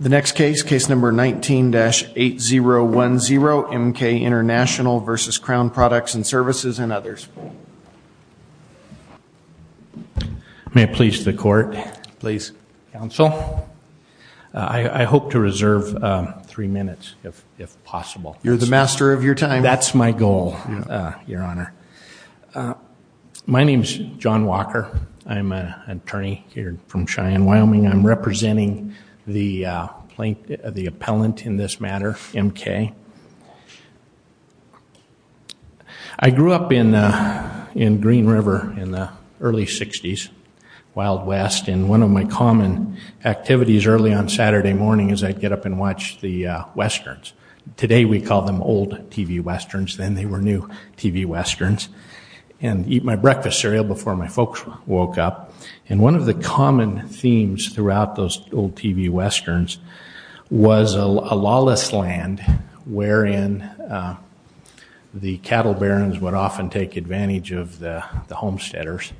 The next case, case number 19-8010, M.K. International v. Crown Products & Services and others. May it please the court. Please. Counsel, I hope to reserve three minutes if possible. You're the master of your time. That's my goal, Your Honor. My name's John Walker. I'm an attorney here from Cheyenne, Wyoming. I'm representing the plaintiff, the appellant in this matter, M.K. I grew up in Green River in the early 60s, Wild West. And one of my common activities early on Saturday morning is I'd get up and watch the Westerns. Today we call them old TV Westerns. Then they were new TV Westerns. And eat my breakfast cereal before my folks woke up. And one of the common themes throughout those old TV Westerns was a lawless land, wherein the cattle barons would often take advantage of the homesteaders.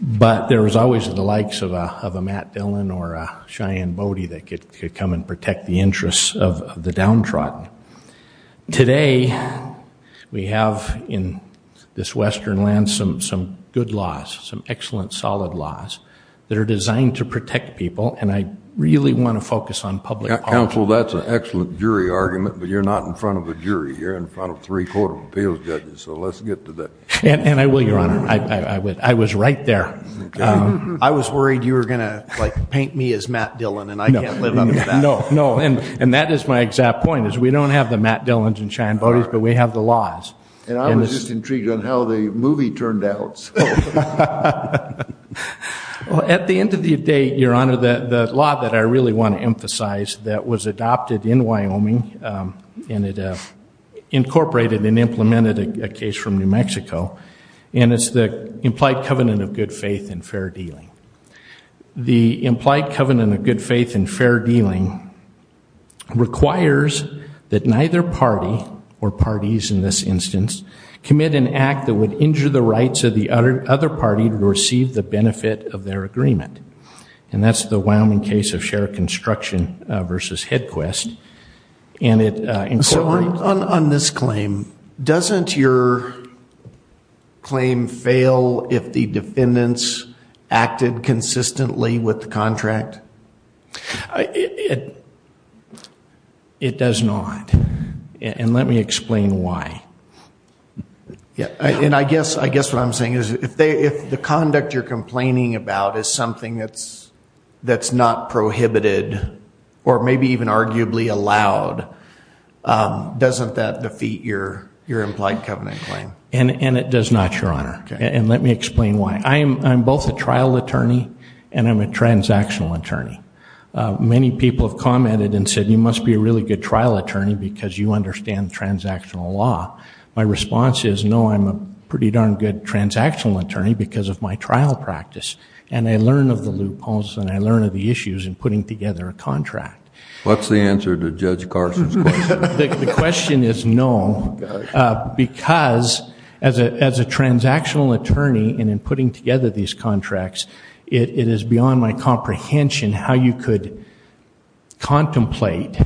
But there was always the likes of a Matt Dillon or a Cheyenne Bodie that could come and protect the interests of the downtrodden. Today we have in this Western land some good laws, some excellent solid laws, that are designed to protect people, and I really want to focus on public policy. Counsel, that's an excellent jury argument, but you're not in front of a jury. You're in front of three court of appeals judges, so let's get to that. And I will, Your Honor. I was right there. I was worried you were going to paint me as Matt Dillon and I can't live under that. No, no, and that is my exact point is we don't have the Matt Dillons and Cheyenne Bodies, but we have the laws. And I was just intrigued on how the movie turned out. Well, at the end of the day, Your Honor, the law that I really want to emphasize that was adopted in Wyoming and it incorporated and implemented a case from New Mexico, and it's the implied covenant of good faith and fair dealing. The implied covenant of good faith and fair dealing requires that neither party, or parties in this instance, commit an act that would injure the rights of the other party to receive the benefit of their agreement. And that's the Wyoming case of shared construction versus HeadQuest. So on this claim, doesn't your claim fail if the defendants acted consistently with the contract? It does not, and let me explain why. And I guess what I'm saying is if the conduct you're complaining about is something that's not prohibited, or maybe even arguably allowed, doesn't that defeat your implied covenant claim? And it does not, Your Honor, and let me explain why. I'm both a trial attorney and I'm a transactional attorney. Many people have commented and said you must be a really good trial attorney because you understand transactional law. My response is no, I'm a pretty darn good transactional attorney because of my trial practice, and I learn of the loopholes and I learn of the issues in putting together a contract. What's the answer to Judge Carson's question? The question is no, because as a transactional attorney and in putting together these contracts, it is beyond my comprehension how you could contemplate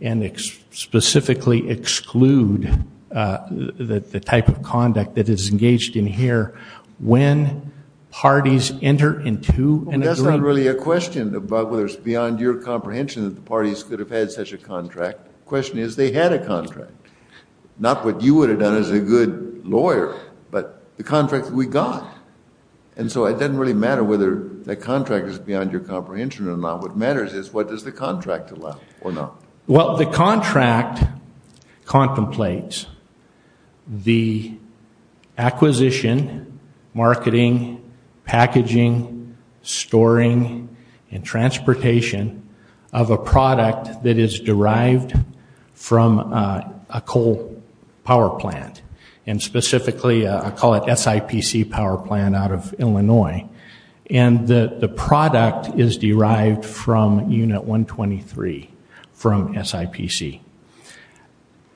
and specifically exclude the type of conduct that is engaged in here when parties enter into an agreement. That's not really a question about whether it's beyond your comprehension that the parties could have had such a contract. The question is they had a contract, not what you would have done as a good lawyer, but the contract that we got. And so it doesn't really matter whether the contract is beyond your comprehension or not. What matters is what does the contract allow or not. Well, the contract contemplates the acquisition, marketing, packaging, storing, and transportation of a product that is derived from a coal power plant, and specifically I call it SIPC power plant out of Illinois. And the product is derived from Unit 123 from SIPC.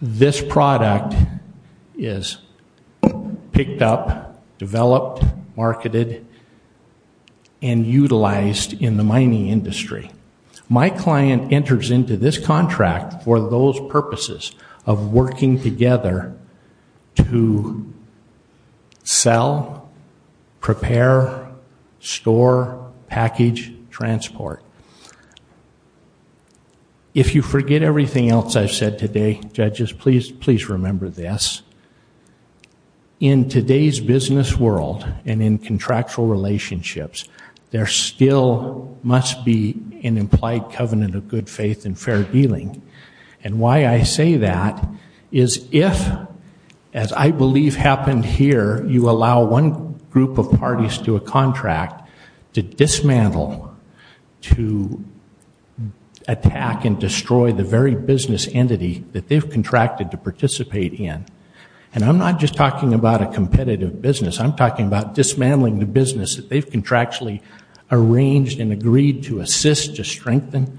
This product is picked up, developed, marketed, and utilized in the mining industry. My client enters into this contract for those purposes of working together to sell, prepare, store, package, transport. If you forget everything else I've said today, judges, please remember this. In today's business world and in contractual relationships, there still must be an implied covenant of good faith and fair dealing. And why I say that is if, as I believe happened here, you allow one group of parties to a contract to dismantle, to attack and destroy the very business entity that they've contracted to participate in, and I'm not just talking about a competitive business. I'm talking about dismantling the business that they've contractually arranged and agreed to assist, to strengthen.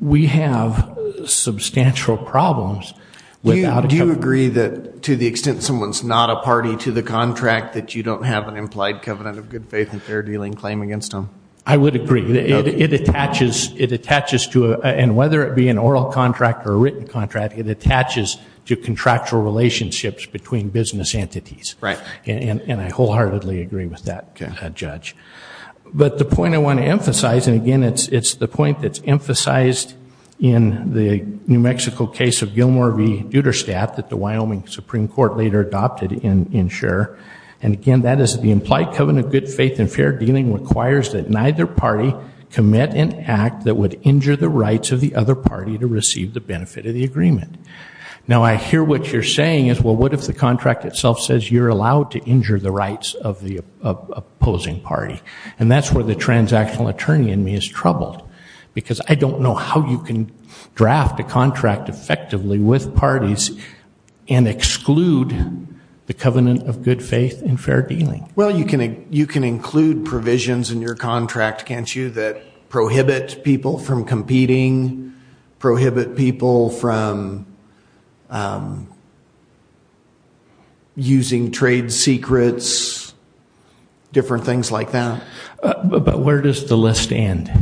We have substantial problems without a covenant. Do you agree that to the extent someone's not a party to the contract that you don't have an implied covenant of good faith and fair dealing claim against them? I would agree. It attaches to, and whether it be an oral contract or a written contract, it attaches to contractual relationships between business entities. Right. And I wholeheartedly agree with that, Judge. But the point I want to emphasize, and again, it's the point that's emphasized in the New Mexico case of Gilmore v. Duderstadt that the Wyoming Supreme Court later adopted in Scher, and again, that is the implied covenant of good faith and fair dealing requires that neither party commit an act that would injure the rights of the other party to receive the benefit of the agreement. Now, I hear what you're saying is, well, what if the contract itself says you're allowed to injure the rights of the opposing party? And that's where the transactional attorney in me is troubled, because I don't know how you can draft a contract effectively with parties and exclude the covenant of good faith and fair dealing. Well, you can include provisions in your contract, can't you, that prohibit people from competing, prohibit people from using trade secrets, different things like that. But where does the list end?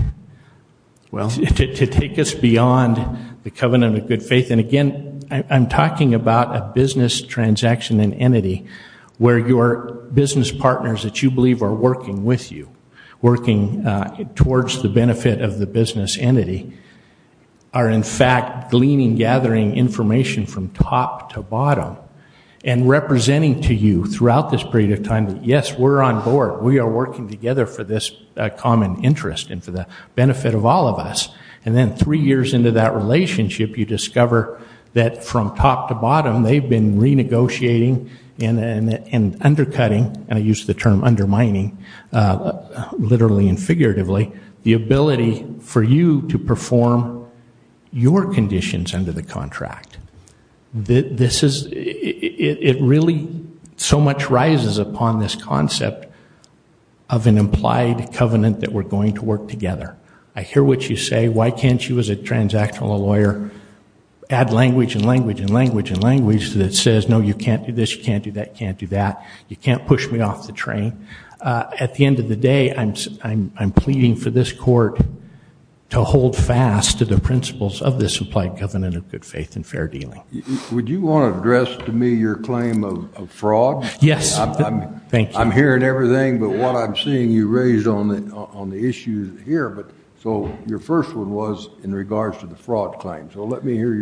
Well, to take us beyond the covenant of good faith, and again, I'm talking about a business transaction and entity where your business partners that you believe are working with you, working towards the benefit of the business entity, are in fact gleaning, gathering information from top to bottom and representing to you throughout this period of time that, yes, we're on board, we are working together for this common interest and for the benefit of all of us. And then three years into that relationship, you discover that from top to bottom, they've been renegotiating and undercutting, and I use the term undermining literally and figuratively, the ability for you to perform your conditions under the contract. It really so much rises upon this concept of an implied covenant that we're going to work together. I hear what you say, why can't you as a transactional lawyer add language and language and language and language that says, no, you can't do this, you can't do that, you can't do that, you can't push me off the train. At the end of the day, I'm pleading for this court to hold fast to the principles of this implied covenant of good faith and fair dealing. Would you want to address to me your claim of fraud? Yes. I'm hearing everything, but what I'm seeing you raise on the issue here, so your first one was in regards to the fraud claim, so let me hear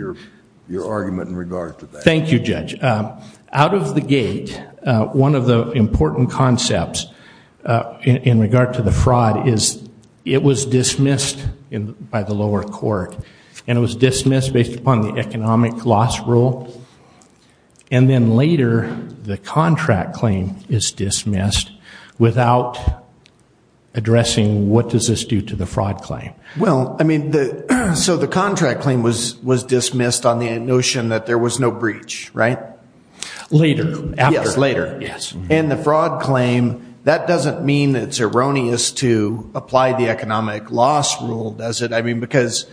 your argument in regards to that. Thank you, Judge. Out of the gate, one of the important concepts in regard to the fraud is it was dismissed by the lower court, and it was dismissed based upon the economic loss rule, and then later the contract claim is dismissed without addressing what does this do to the fraud claim. Well, I mean, so the contract claim was dismissed on the notion that there was no breach, right? Later. Yes, later. Yes. And the fraud claim, that doesn't mean it's erroneous to apply the economic loss rule, does it? I mean, because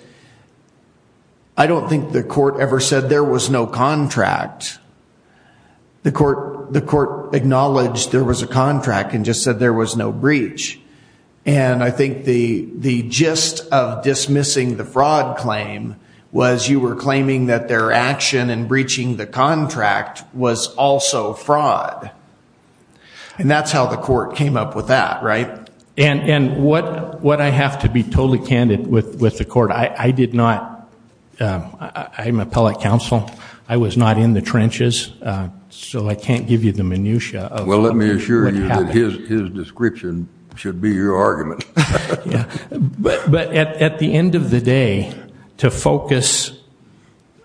I don't think the court ever said there was no contract. The court acknowledged there was a contract and just said there was no breach, and I think the gist of dismissing the fraud claim was you were claiming that their action in breaching the contract was also fraud, and that's how the court came up with that, right? And what I have to be totally candid with the court, I did not, I'm appellate counsel. I was not in the trenches, so I can't give you the minutiae of what happened. Well, let me assure you that his description should be your argument. But at the end of the day, to focus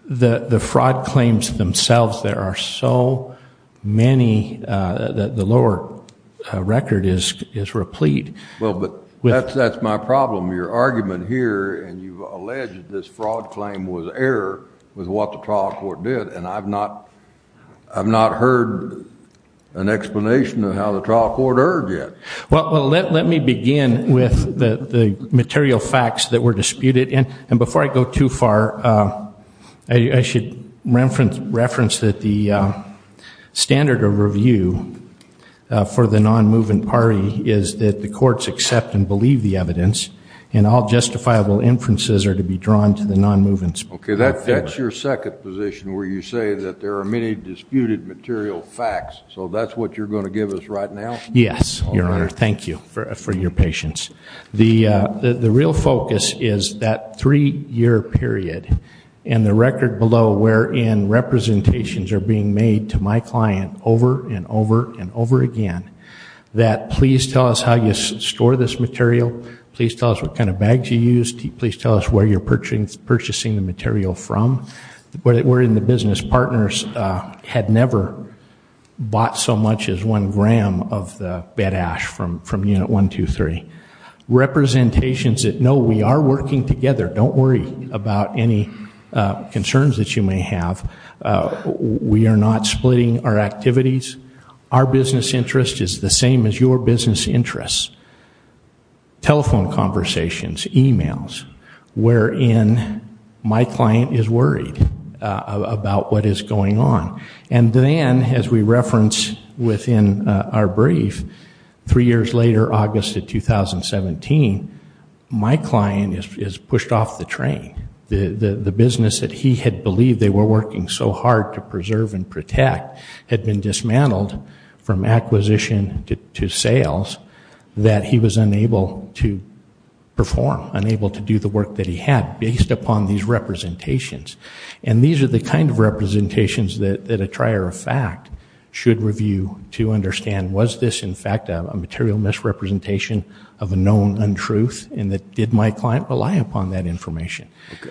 the fraud claims themselves, there are so many that the lower record is replete. Well, but that's my problem. Your argument here, and you've alleged this fraud claim was error with what the trial court did, and I've not heard an explanation of how the trial court erred yet. Well, let me begin with the material facts that were disputed, and before I go too far, I should reference that the standard of review for the non-moving party is that the courts accept and believe the evidence, and all justifiable inferences are to be drawn to the non-moving's point of view. Okay, that's your second position where you say that there are many disputed material facts, so that's what you're going to give us right now? Yes, Your Honor. Thank you for your patience. The real focus is that three-year period and the record below wherein representations are being made to my client over and over and over again that please tell us how you store this material, please tell us what kind of bags you use, please tell us where you're purchasing the material from. We're in the business. Partners had never bought so much as one gram of the bed ash from Unit 123. Representations that, no, we are working together. Don't worry about any concerns that you may have. We are not splitting our activities. Our business interest is the same as your business interests. Telephone conversations, e-mails, wherein my client is worried about what is going on. And then, as we reference within our brief, three years later, August of 2017, my client is pushed off the train. The business that he had believed they were working so hard to preserve and protect had been dismantled from acquisition to sales that he was unable to perform, unable to do the work that he had based upon these representations. And these are the kind of representations that a trier of fact should review to understand, was this, in fact, a material misrepresentation of a known untruth and did my client rely upon that information?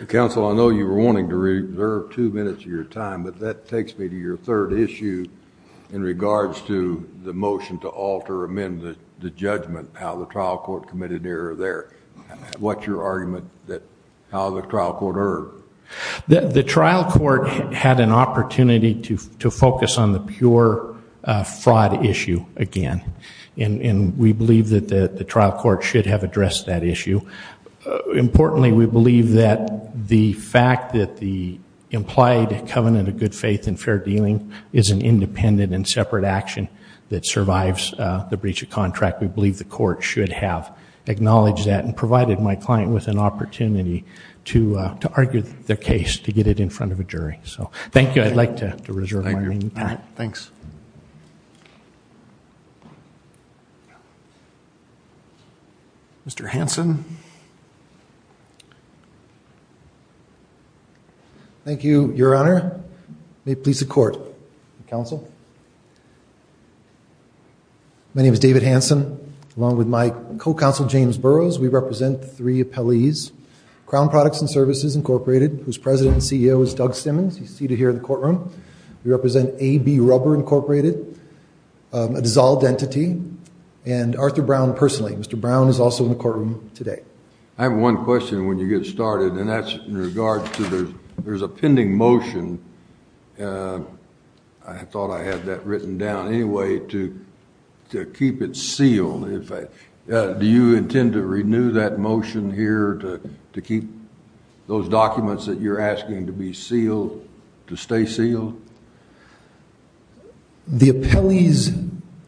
Counsel, I know you were wanting to reserve two minutes of your time, but that takes me to your third issue in regards to the motion to alter, amend the judgment, how the trial court committed an error there. What's your argument that how the trial court erred? The trial court had an opportunity to focus on the pure fraud issue again, and we believe that the trial court should have addressed that issue. Importantly, we believe that the fact that the implied covenant of good faith and fair dealing is an independent and separate action that survives the breach of contract, we believe the court should have acknowledged that and provided my client with an opportunity to argue their case, to get it in front of a jury. So thank you. I'd like to reserve my remaining time. Thanks. Thank you. Mr. Hanson. Thank you, Your Honor. May it please the court. Counsel. My name is David Hanson. Along with my co-counsel, James Burroughs, we represent three appellees, Crown Products and Services, Incorporated, whose president and CEO is Doug Simmons. He's seated here in the courtroom. We represent AB Rubber, Incorporated, a dissolved entity, and Arthur Brown personally. Mr. Brown is also in the courtroom today. I have one question when you get started, and that's in regards to there's a pending motion. I thought I had that written down. Anyway, to keep it sealed, do you intend to renew that motion here to keep those documents that you're asking to be sealed, to stay sealed? The appellee's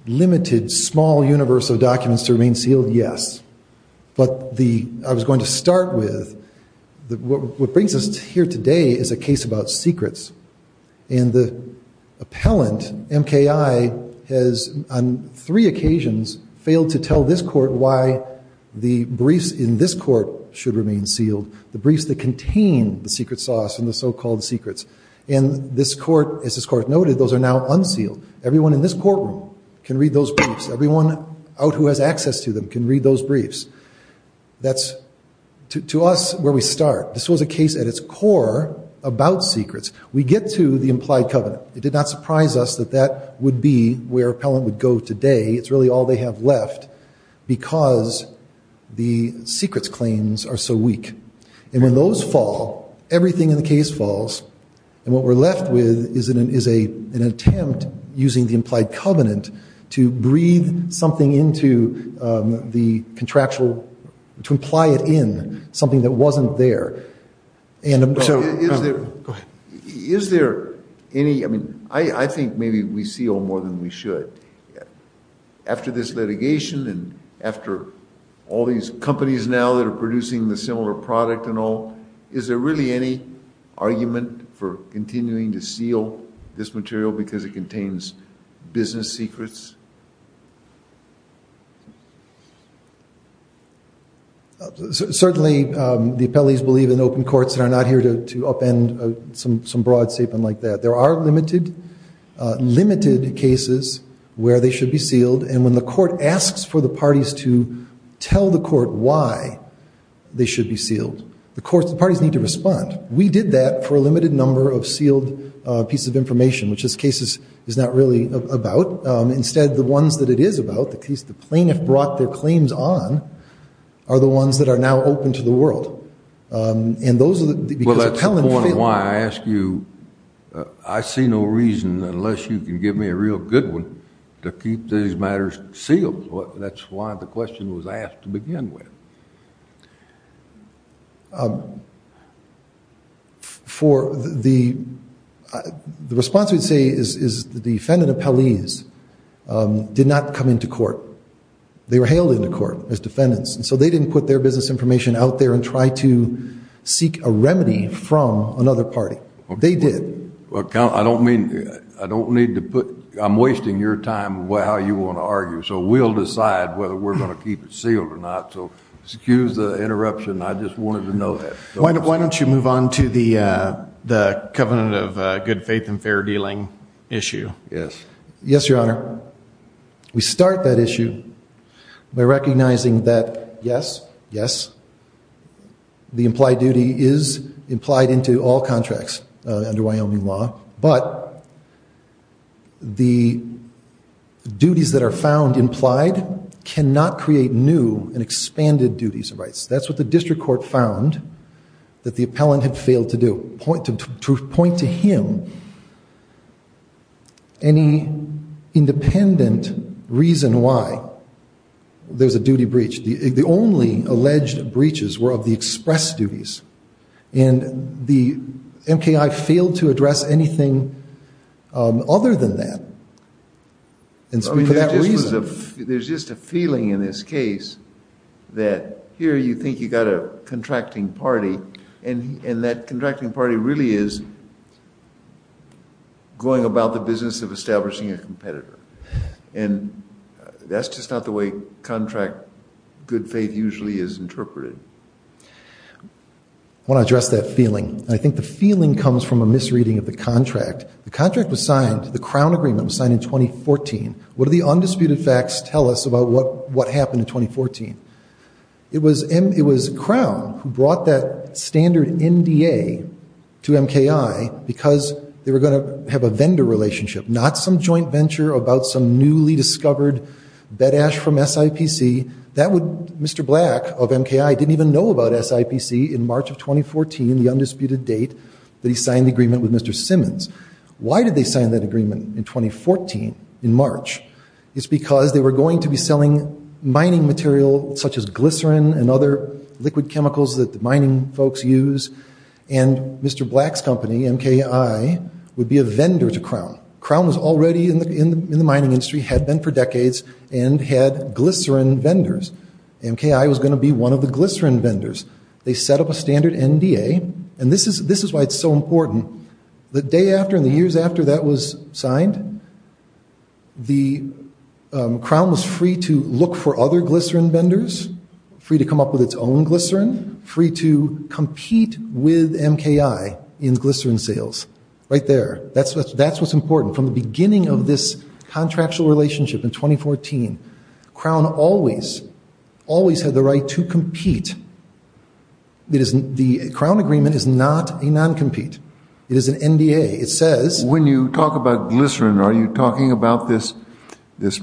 limited small universe of documents to remain sealed, yes. But I was going to start with what brings us here today is a case about secrets. And the appellant, MKI, has on three occasions failed to tell this court why the briefs in this court should remain sealed, the briefs that contain the secret sauce and the so-called secrets. And this court, as this court noted, those are now unsealed. Everyone in this courtroom can read those briefs. Everyone out who has access to them can read those briefs. That's, to us, where we start. This was a case at its core about secrets. We get to the implied covenant. It did not surprise us that that would be where appellant would go today. It's really all they have left because the secrets claims are so weak. And when those fall, everything in the case falls. And what we're left with is an attempt, using the implied covenant, to breathe something into the contractual, to imply it in, something that wasn't there. Is there any, I mean, I think maybe we seal more than we should. After this litigation and after all these companies now that are producing the similar product and all, is there really any argument for continuing to seal this material because it contains business secrets? Certainly, the appellees believe in open courts that are not here to upend some broad statement like that. There are limited, limited cases where they should be sealed. And when the court asks for the parties to tell the court why they should be sealed, the parties need to respond. We did that for a limited number of sealed pieces of information, which this case is not really about. Instead, the ones that it is about, the case the plaintiff brought their claims on, are the ones that are now open to the world. And those are the, because appellant feel. Well, that's the point of why I ask you. I see no reason, unless you can give me a real good one, to keep these matters sealed. That's why the question was asked to begin with. For the, the response we'd say is the defendant appellees did not come into court. They were hailed into court as defendants. And so they didn't put their business information out there and try to seek a remedy from another party. They did. Well, I don't mean, I don't need to put, I'm wasting your time on how you want to argue. So we'll decide whether we're going to keep it sealed or not. So excuse the interruption. I just wanted to know that. Why don't you move on to the covenant of good faith and fair dealing issue? Yes. Yes, Your Honor. We start that issue by recognizing that, yes, yes, the implied duty is implied into all contracts under Wyoming law. But the duties that are found implied cannot create new and expanded duties of rights. That's what the district court found that the appellant had failed to do. To point to him any independent reason why there's a duty breach. The only alleged breaches were of the express duties. And the MKI failed to address anything other than that. For that reason. There's just a feeling in this case that here you think you've got a contracting party, and that contracting party really is going about the business of establishing a competitor. And that's just not the way contract good faith usually is interpreted. I want to address that feeling. And I think the feeling comes from a misreading of the contract. The contract was signed, the Crown agreement was signed in 2014. What do the undisputed facts tell us about what happened in 2014? It was Crown who brought that standard NDA to MKI because they were going to have a vendor relationship, not some joint venture about some newly discovered bedash from SIPC. That would, Mr. Black of MKI didn't even know about SIPC in March of 2014, the undisputed date that he signed the agreement with Mr. Simmons. Why did they sign that agreement in 2014, in March? It's because they were going to be selling mining material such as glycerin and other liquid chemicals that the mining folks use. And Mr. Black's company, MKI, would be a vendor to Crown. Crown was already in the mining industry, had been for decades, and had glycerin vendors. MKI was going to be one of the glycerin vendors. They set up a standard NDA, and this is why it's so important. The day after and the years after that was signed, the Crown was free to look for other glycerin vendors, free to come up with its own glycerin, and free to compete with MKI in glycerin sales. Right there, that's what's important. From the beginning of this contractual relationship in 2014, Crown always, always had the right to compete. The Crown agreement is not a non-compete. It is an NDA. It says— When you talk about glycerin, are you talking about this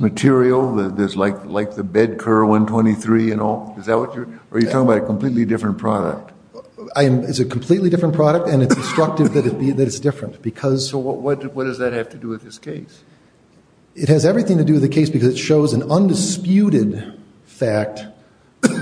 material, like the BEDCUR 123 and all? Is that what you're—are you talking about a completely different product? It's a completely different product, and it's instructive that it's different because— So what does that have to do with this case? It has everything to do with the case because it shows an undisputed fact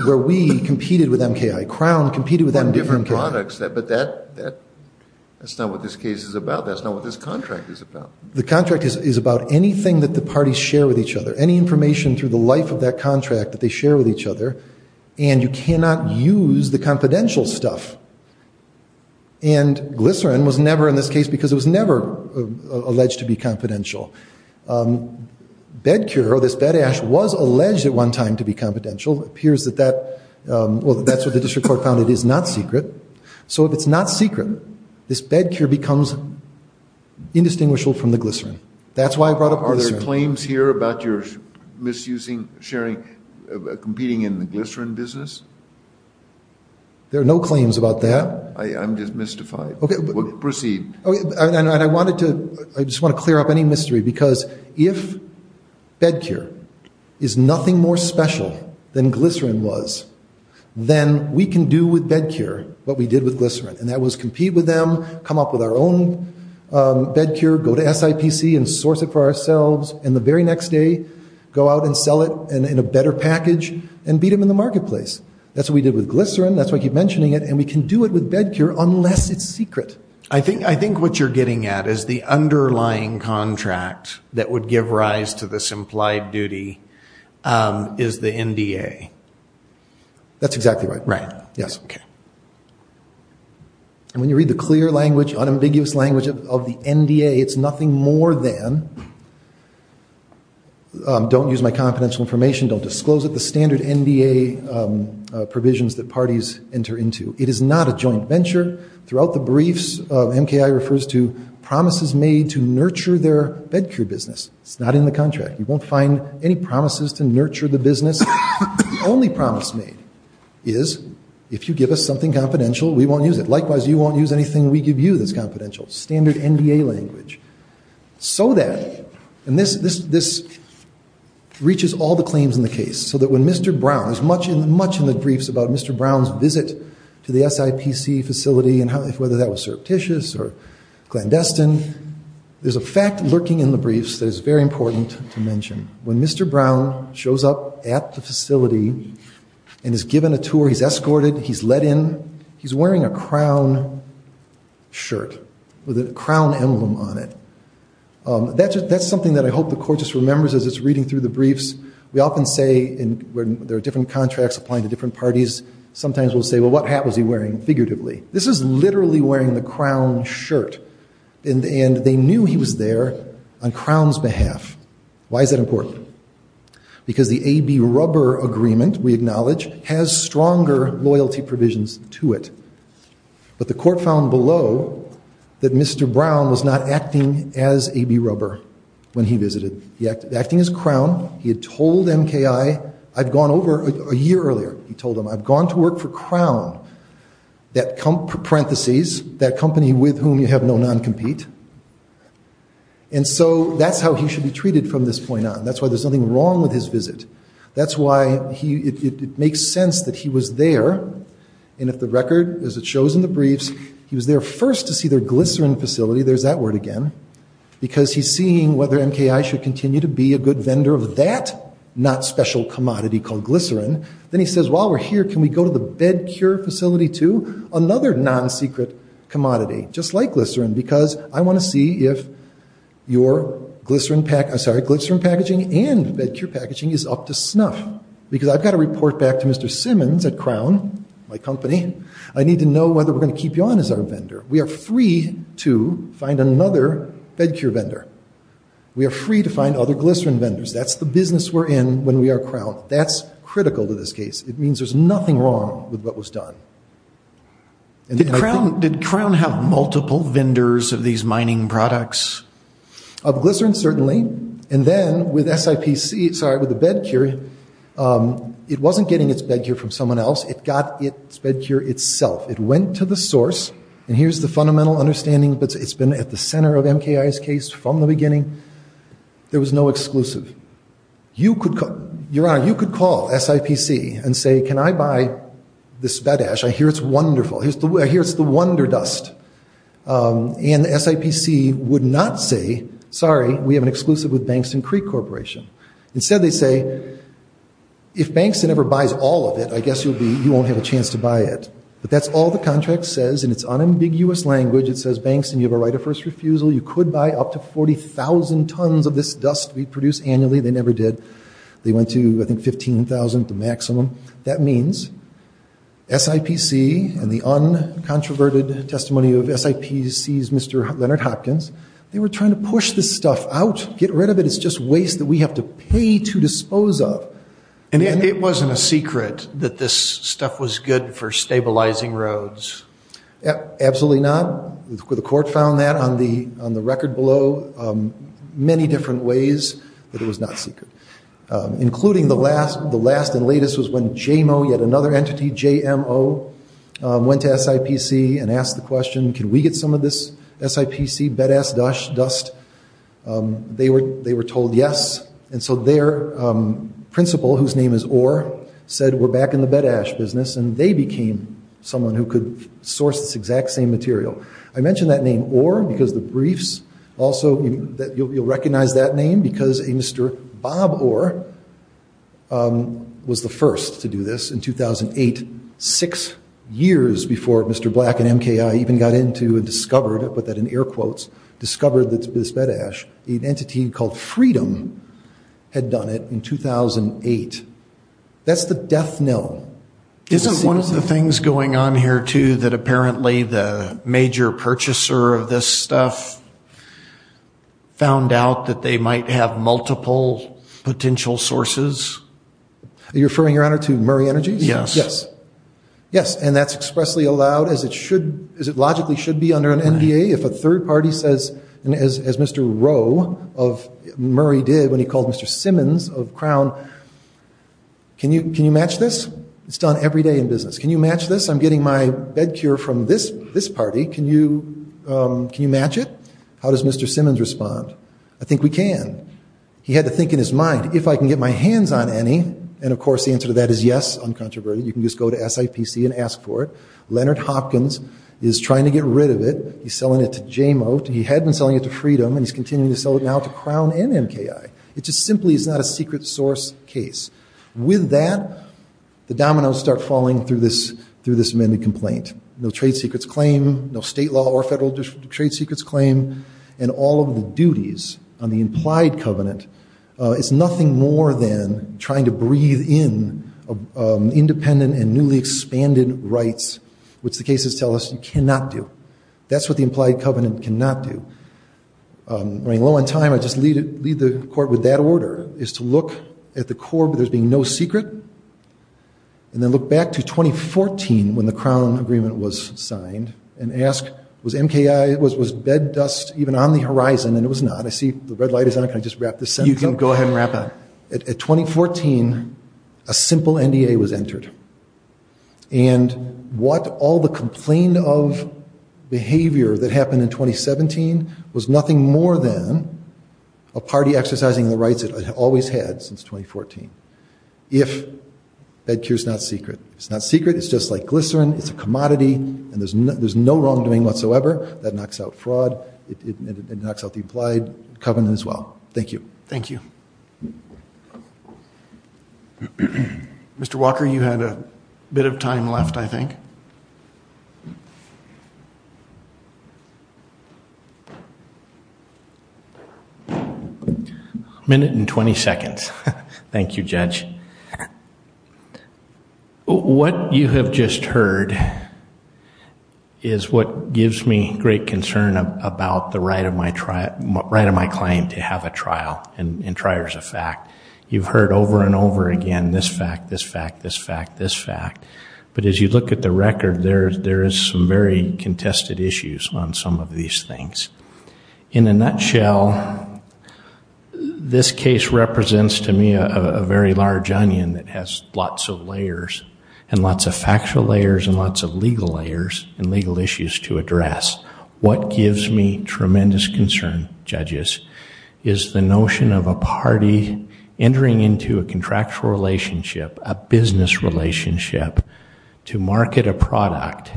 where we competed with MKI. Crown competed with MKI. On different products. But that's not what this case is about. That's not what this contract is about. The contract is about anything that the parties share with each other, any information through the life of that contract that they share with each other, and you cannot use the confidential stuff. And glycerin was never in this case because it was never alleged to be confidential. BEDCUR, or this BEDASH, was alleged at one time to be confidential. It appears that that—well, that's what the district court found. It is not secret. So if it's not secret, this BEDCUR becomes indistinguishable from the glycerin. That's why I brought up glycerin. Are there claims here about your misusing, sharing, competing in the glycerin business? There are no claims about that. I'm just mystified. Proceed. I just want to clear up any mystery because if BEDCUR is nothing more special than glycerin was, then we can do with BEDCUR what we did with glycerin, and that was compete with them, come up with our own BEDCUR, go to SIPC and source it for ourselves, and the very next day go out and sell it in a better package and beat them in the marketplace. That's what we did with glycerin. That's why I keep mentioning it. And we can do it with BEDCUR unless it's secret. I think what you're getting at is the underlying contract that would give rise to this implied duty is the NDA. That's exactly right. Right. Yes. And when you read the clear language, unambiguous language of the NDA, it's nothing more than don't use my confidential information, don't disclose it, the standard NDA provisions that parties enter into. It is not a joint venture. Throughout the briefs, MKI refers to promises made to nurture their BEDCUR business. It's not in the contract. You won't find any promises to nurture the business. The only promise made is if you give us something confidential, we won't use it. Likewise, you won't use anything we give you that's confidential. Standard NDA language. So that, and this reaches all the claims in the case, so that when Mr. Brown, as much in the briefs about Mr. Brown's visit to the SIPC facility, whether that was surreptitious or clandestine, there's a fact lurking in the briefs that is very important to mention. When Mr. Brown shows up at the facility and is given a tour, he's escorted, he's let in, he's wearing a crown shirt with a crown emblem on it. That's something that I hope the court just remembers as it's reading through the briefs. We often say when there are different contracts applying to different parties, sometimes we'll say, well, what hat was he wearing figuratively? This is literally wearing the crown shirt, and they knew he was there on Crown's behalf. Why is that important? Because the AB rubber agreement, we acknowledge, has stronger loyalty provisions to it. But the court found below that Mr. Brown was not acting as AB rubber when he visited. He acted as crown. He had told MKI, I've gone over, a year earlier, he told them, I've gone to work for Crown, parentheses, that company with whom you have no non-compete. And so that's how he should be treated from this point on. That's why there's nothing wrong with his visit. That's why it makes sense that he was there, and if the record, as it shows in the briefs, he was there first to see their glycerin facility, there's that word again, because he's seeing whether MKI should continue to be a good vendor of that not special commodity called glycerin. Then he says, while we're here, can we go to the bed cure facility too? Another non-secret commodity, just like glycerin, because I want to see if your glycerin packaging and bed cure packaging is up to snuff, because I've got to report back to Mr. Simmons at Crown, my company, I need to know whether we're going to keep you on as our vendor. We are free to find another bed cure vendor. We are free to find other glycerin vendors. That's the business we're in when we are Crown. That's critical to this case. It means there's nothing wrong with what was done. Did Crown have multiple vendors of these mining products? Of glycerin, certainly, and then with SIPC, sorry, with the bed cure, it wasn't getting its bed cure from someone else. It got its bed cure itself. It went to the source, and here's the fundamental understanding, but it's been at the center of MKI's case from the beginning. There was no exclusive. Your Honor, you could call SIPC and say, can I buy this bed ash? I hear it's wonderful. I hear it's the wonder dust. And SIPC would not say, sorry, we have an exclusive with Bankston Creek Corporation. Instead they say, if Bankston ever buys all of it, I guess you won't have a chance to buy it. But that's all the contract says, and it's unambiguous language. It says, Bankston, you have a right of first refusal. You could buy up to 40,000 tons of this dust we produce annually. They never did. They went to, I think, 15,000 at the maximum. That means SIPC and the uncontroverted testimony of SIPC's Mr. Leonard Hopkins, they were trying to push this stuff out, get rid of it. It's just waste that we have to pay to dispose of. And it wasn't a secret that this stuff was good for stabilizing roads. Absolutely not. The court found that on the record below many different ways that it was not secret, including the last and latest was when JMO, yet another entity, J-M-O, went to SIPC and asked the question, can we get some of this SIPC bed ash dust? They were told yes. And so their principal, whose name is Orr, said we're back in the bed ash business, and they became someone who could source this exact same material. I mention that name Orr because the briefs also, you'll recognize that name, because a Mr. Bob Orr was the first to do this in 2008, six years before Mr. Black and MKI even got into and discovered it, but that in air quotes, discovered this bed ash. An entity called Freedom had done it in 2008. That's the death knell. Isn't one of the things going on here, too, that apparently the major purchaser of this stuff found out that they might have multiple potential sources? Are you referring, Your Honor, to Murray Energy? Yes. Yes, and that's expressly allowed, as it logically should be under an NDA. If a third party says, as Mr. Rowe of Murray did when he called Mr. Simmons of Crown, can you match this? It's done every day in business. Can you match this? I'm getting my bed cure from this party. Can you match it? How does Mr. Simmons respond? I think we can. He had to think in his mind, if I can get my hands on any, and of course the answer to that is yes, uncontroverted. You can just go to SIPC and ask for it. Leonard Hopkins is trying to get rid of it. He's selling it to J-Mote. He had been selling it to Freedom, and he's continuing to sell it now to Crown and MKI. It just simply is not a secret source case. With that, the dominoes start falling through this amended complaint. No trade secrets claim, no state law or federal trade secrets claim, and all of the duties on the implied covenant is nothing more than trying to breathe in independent and newly expanded rights, which the cases tell us you cannot do. That's what the implied covenant cannot do. I mean, low on time, I just lead the court with that order, is to look at the core, but there's being no secret, and then look back to 2014 when the Crown agreement was signed and ask, was MKI, was bed dust even on the horizon? And it was not. I see the red light is on. Can I just wrap this up? You can go ahead and wrap up. At 2014, a simple NDA was entered, and what all the complaint of behavior that happened in 2017 was nothing more than a party exercising the rights it always had since 2014. If bed cure is not secret, it's not secret, it's just like glycerin, it's a commodity, and there's no wrongdoing whatsoever, that knocks out fraud, it knocks out the implied covenant as well. Thank you. Thank you. Mr. Walker, you had a bit of time left, I think. A minute and twenty seconds. Thank you, Judge. What you have just heard is what gives me great concern about the right of my client to have a trial and triers of fact. You've heard over and over again this fact, this fact, this fact, this fact, but as you look at the record, there is some very contested issues on some of these things. In a nutshell, this case represents to me a very large onion that has lots of layers and lots of factual layers and lots of legal layers and legal issues to address. What gives me tremendous concern, judges, is the notion of a party entering into a contractual relationship, a business relationship, to market a product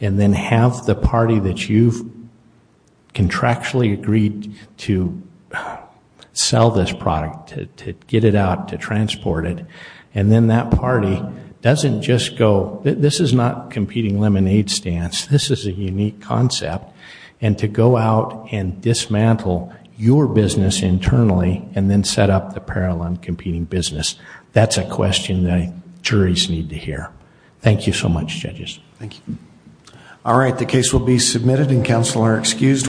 and then have the party that you've contractually agreed to sell this product, to get it out, to transport it, and then that party doesn't just go, this is not competing lemonade stands. This is a unique concept. And to go out and dismantle your business internally and then set up the parallel and competing business, that's a question that juries need to hear. Thank you so much, judges. Thank you. All right, the case will be submitted and counsel are excused.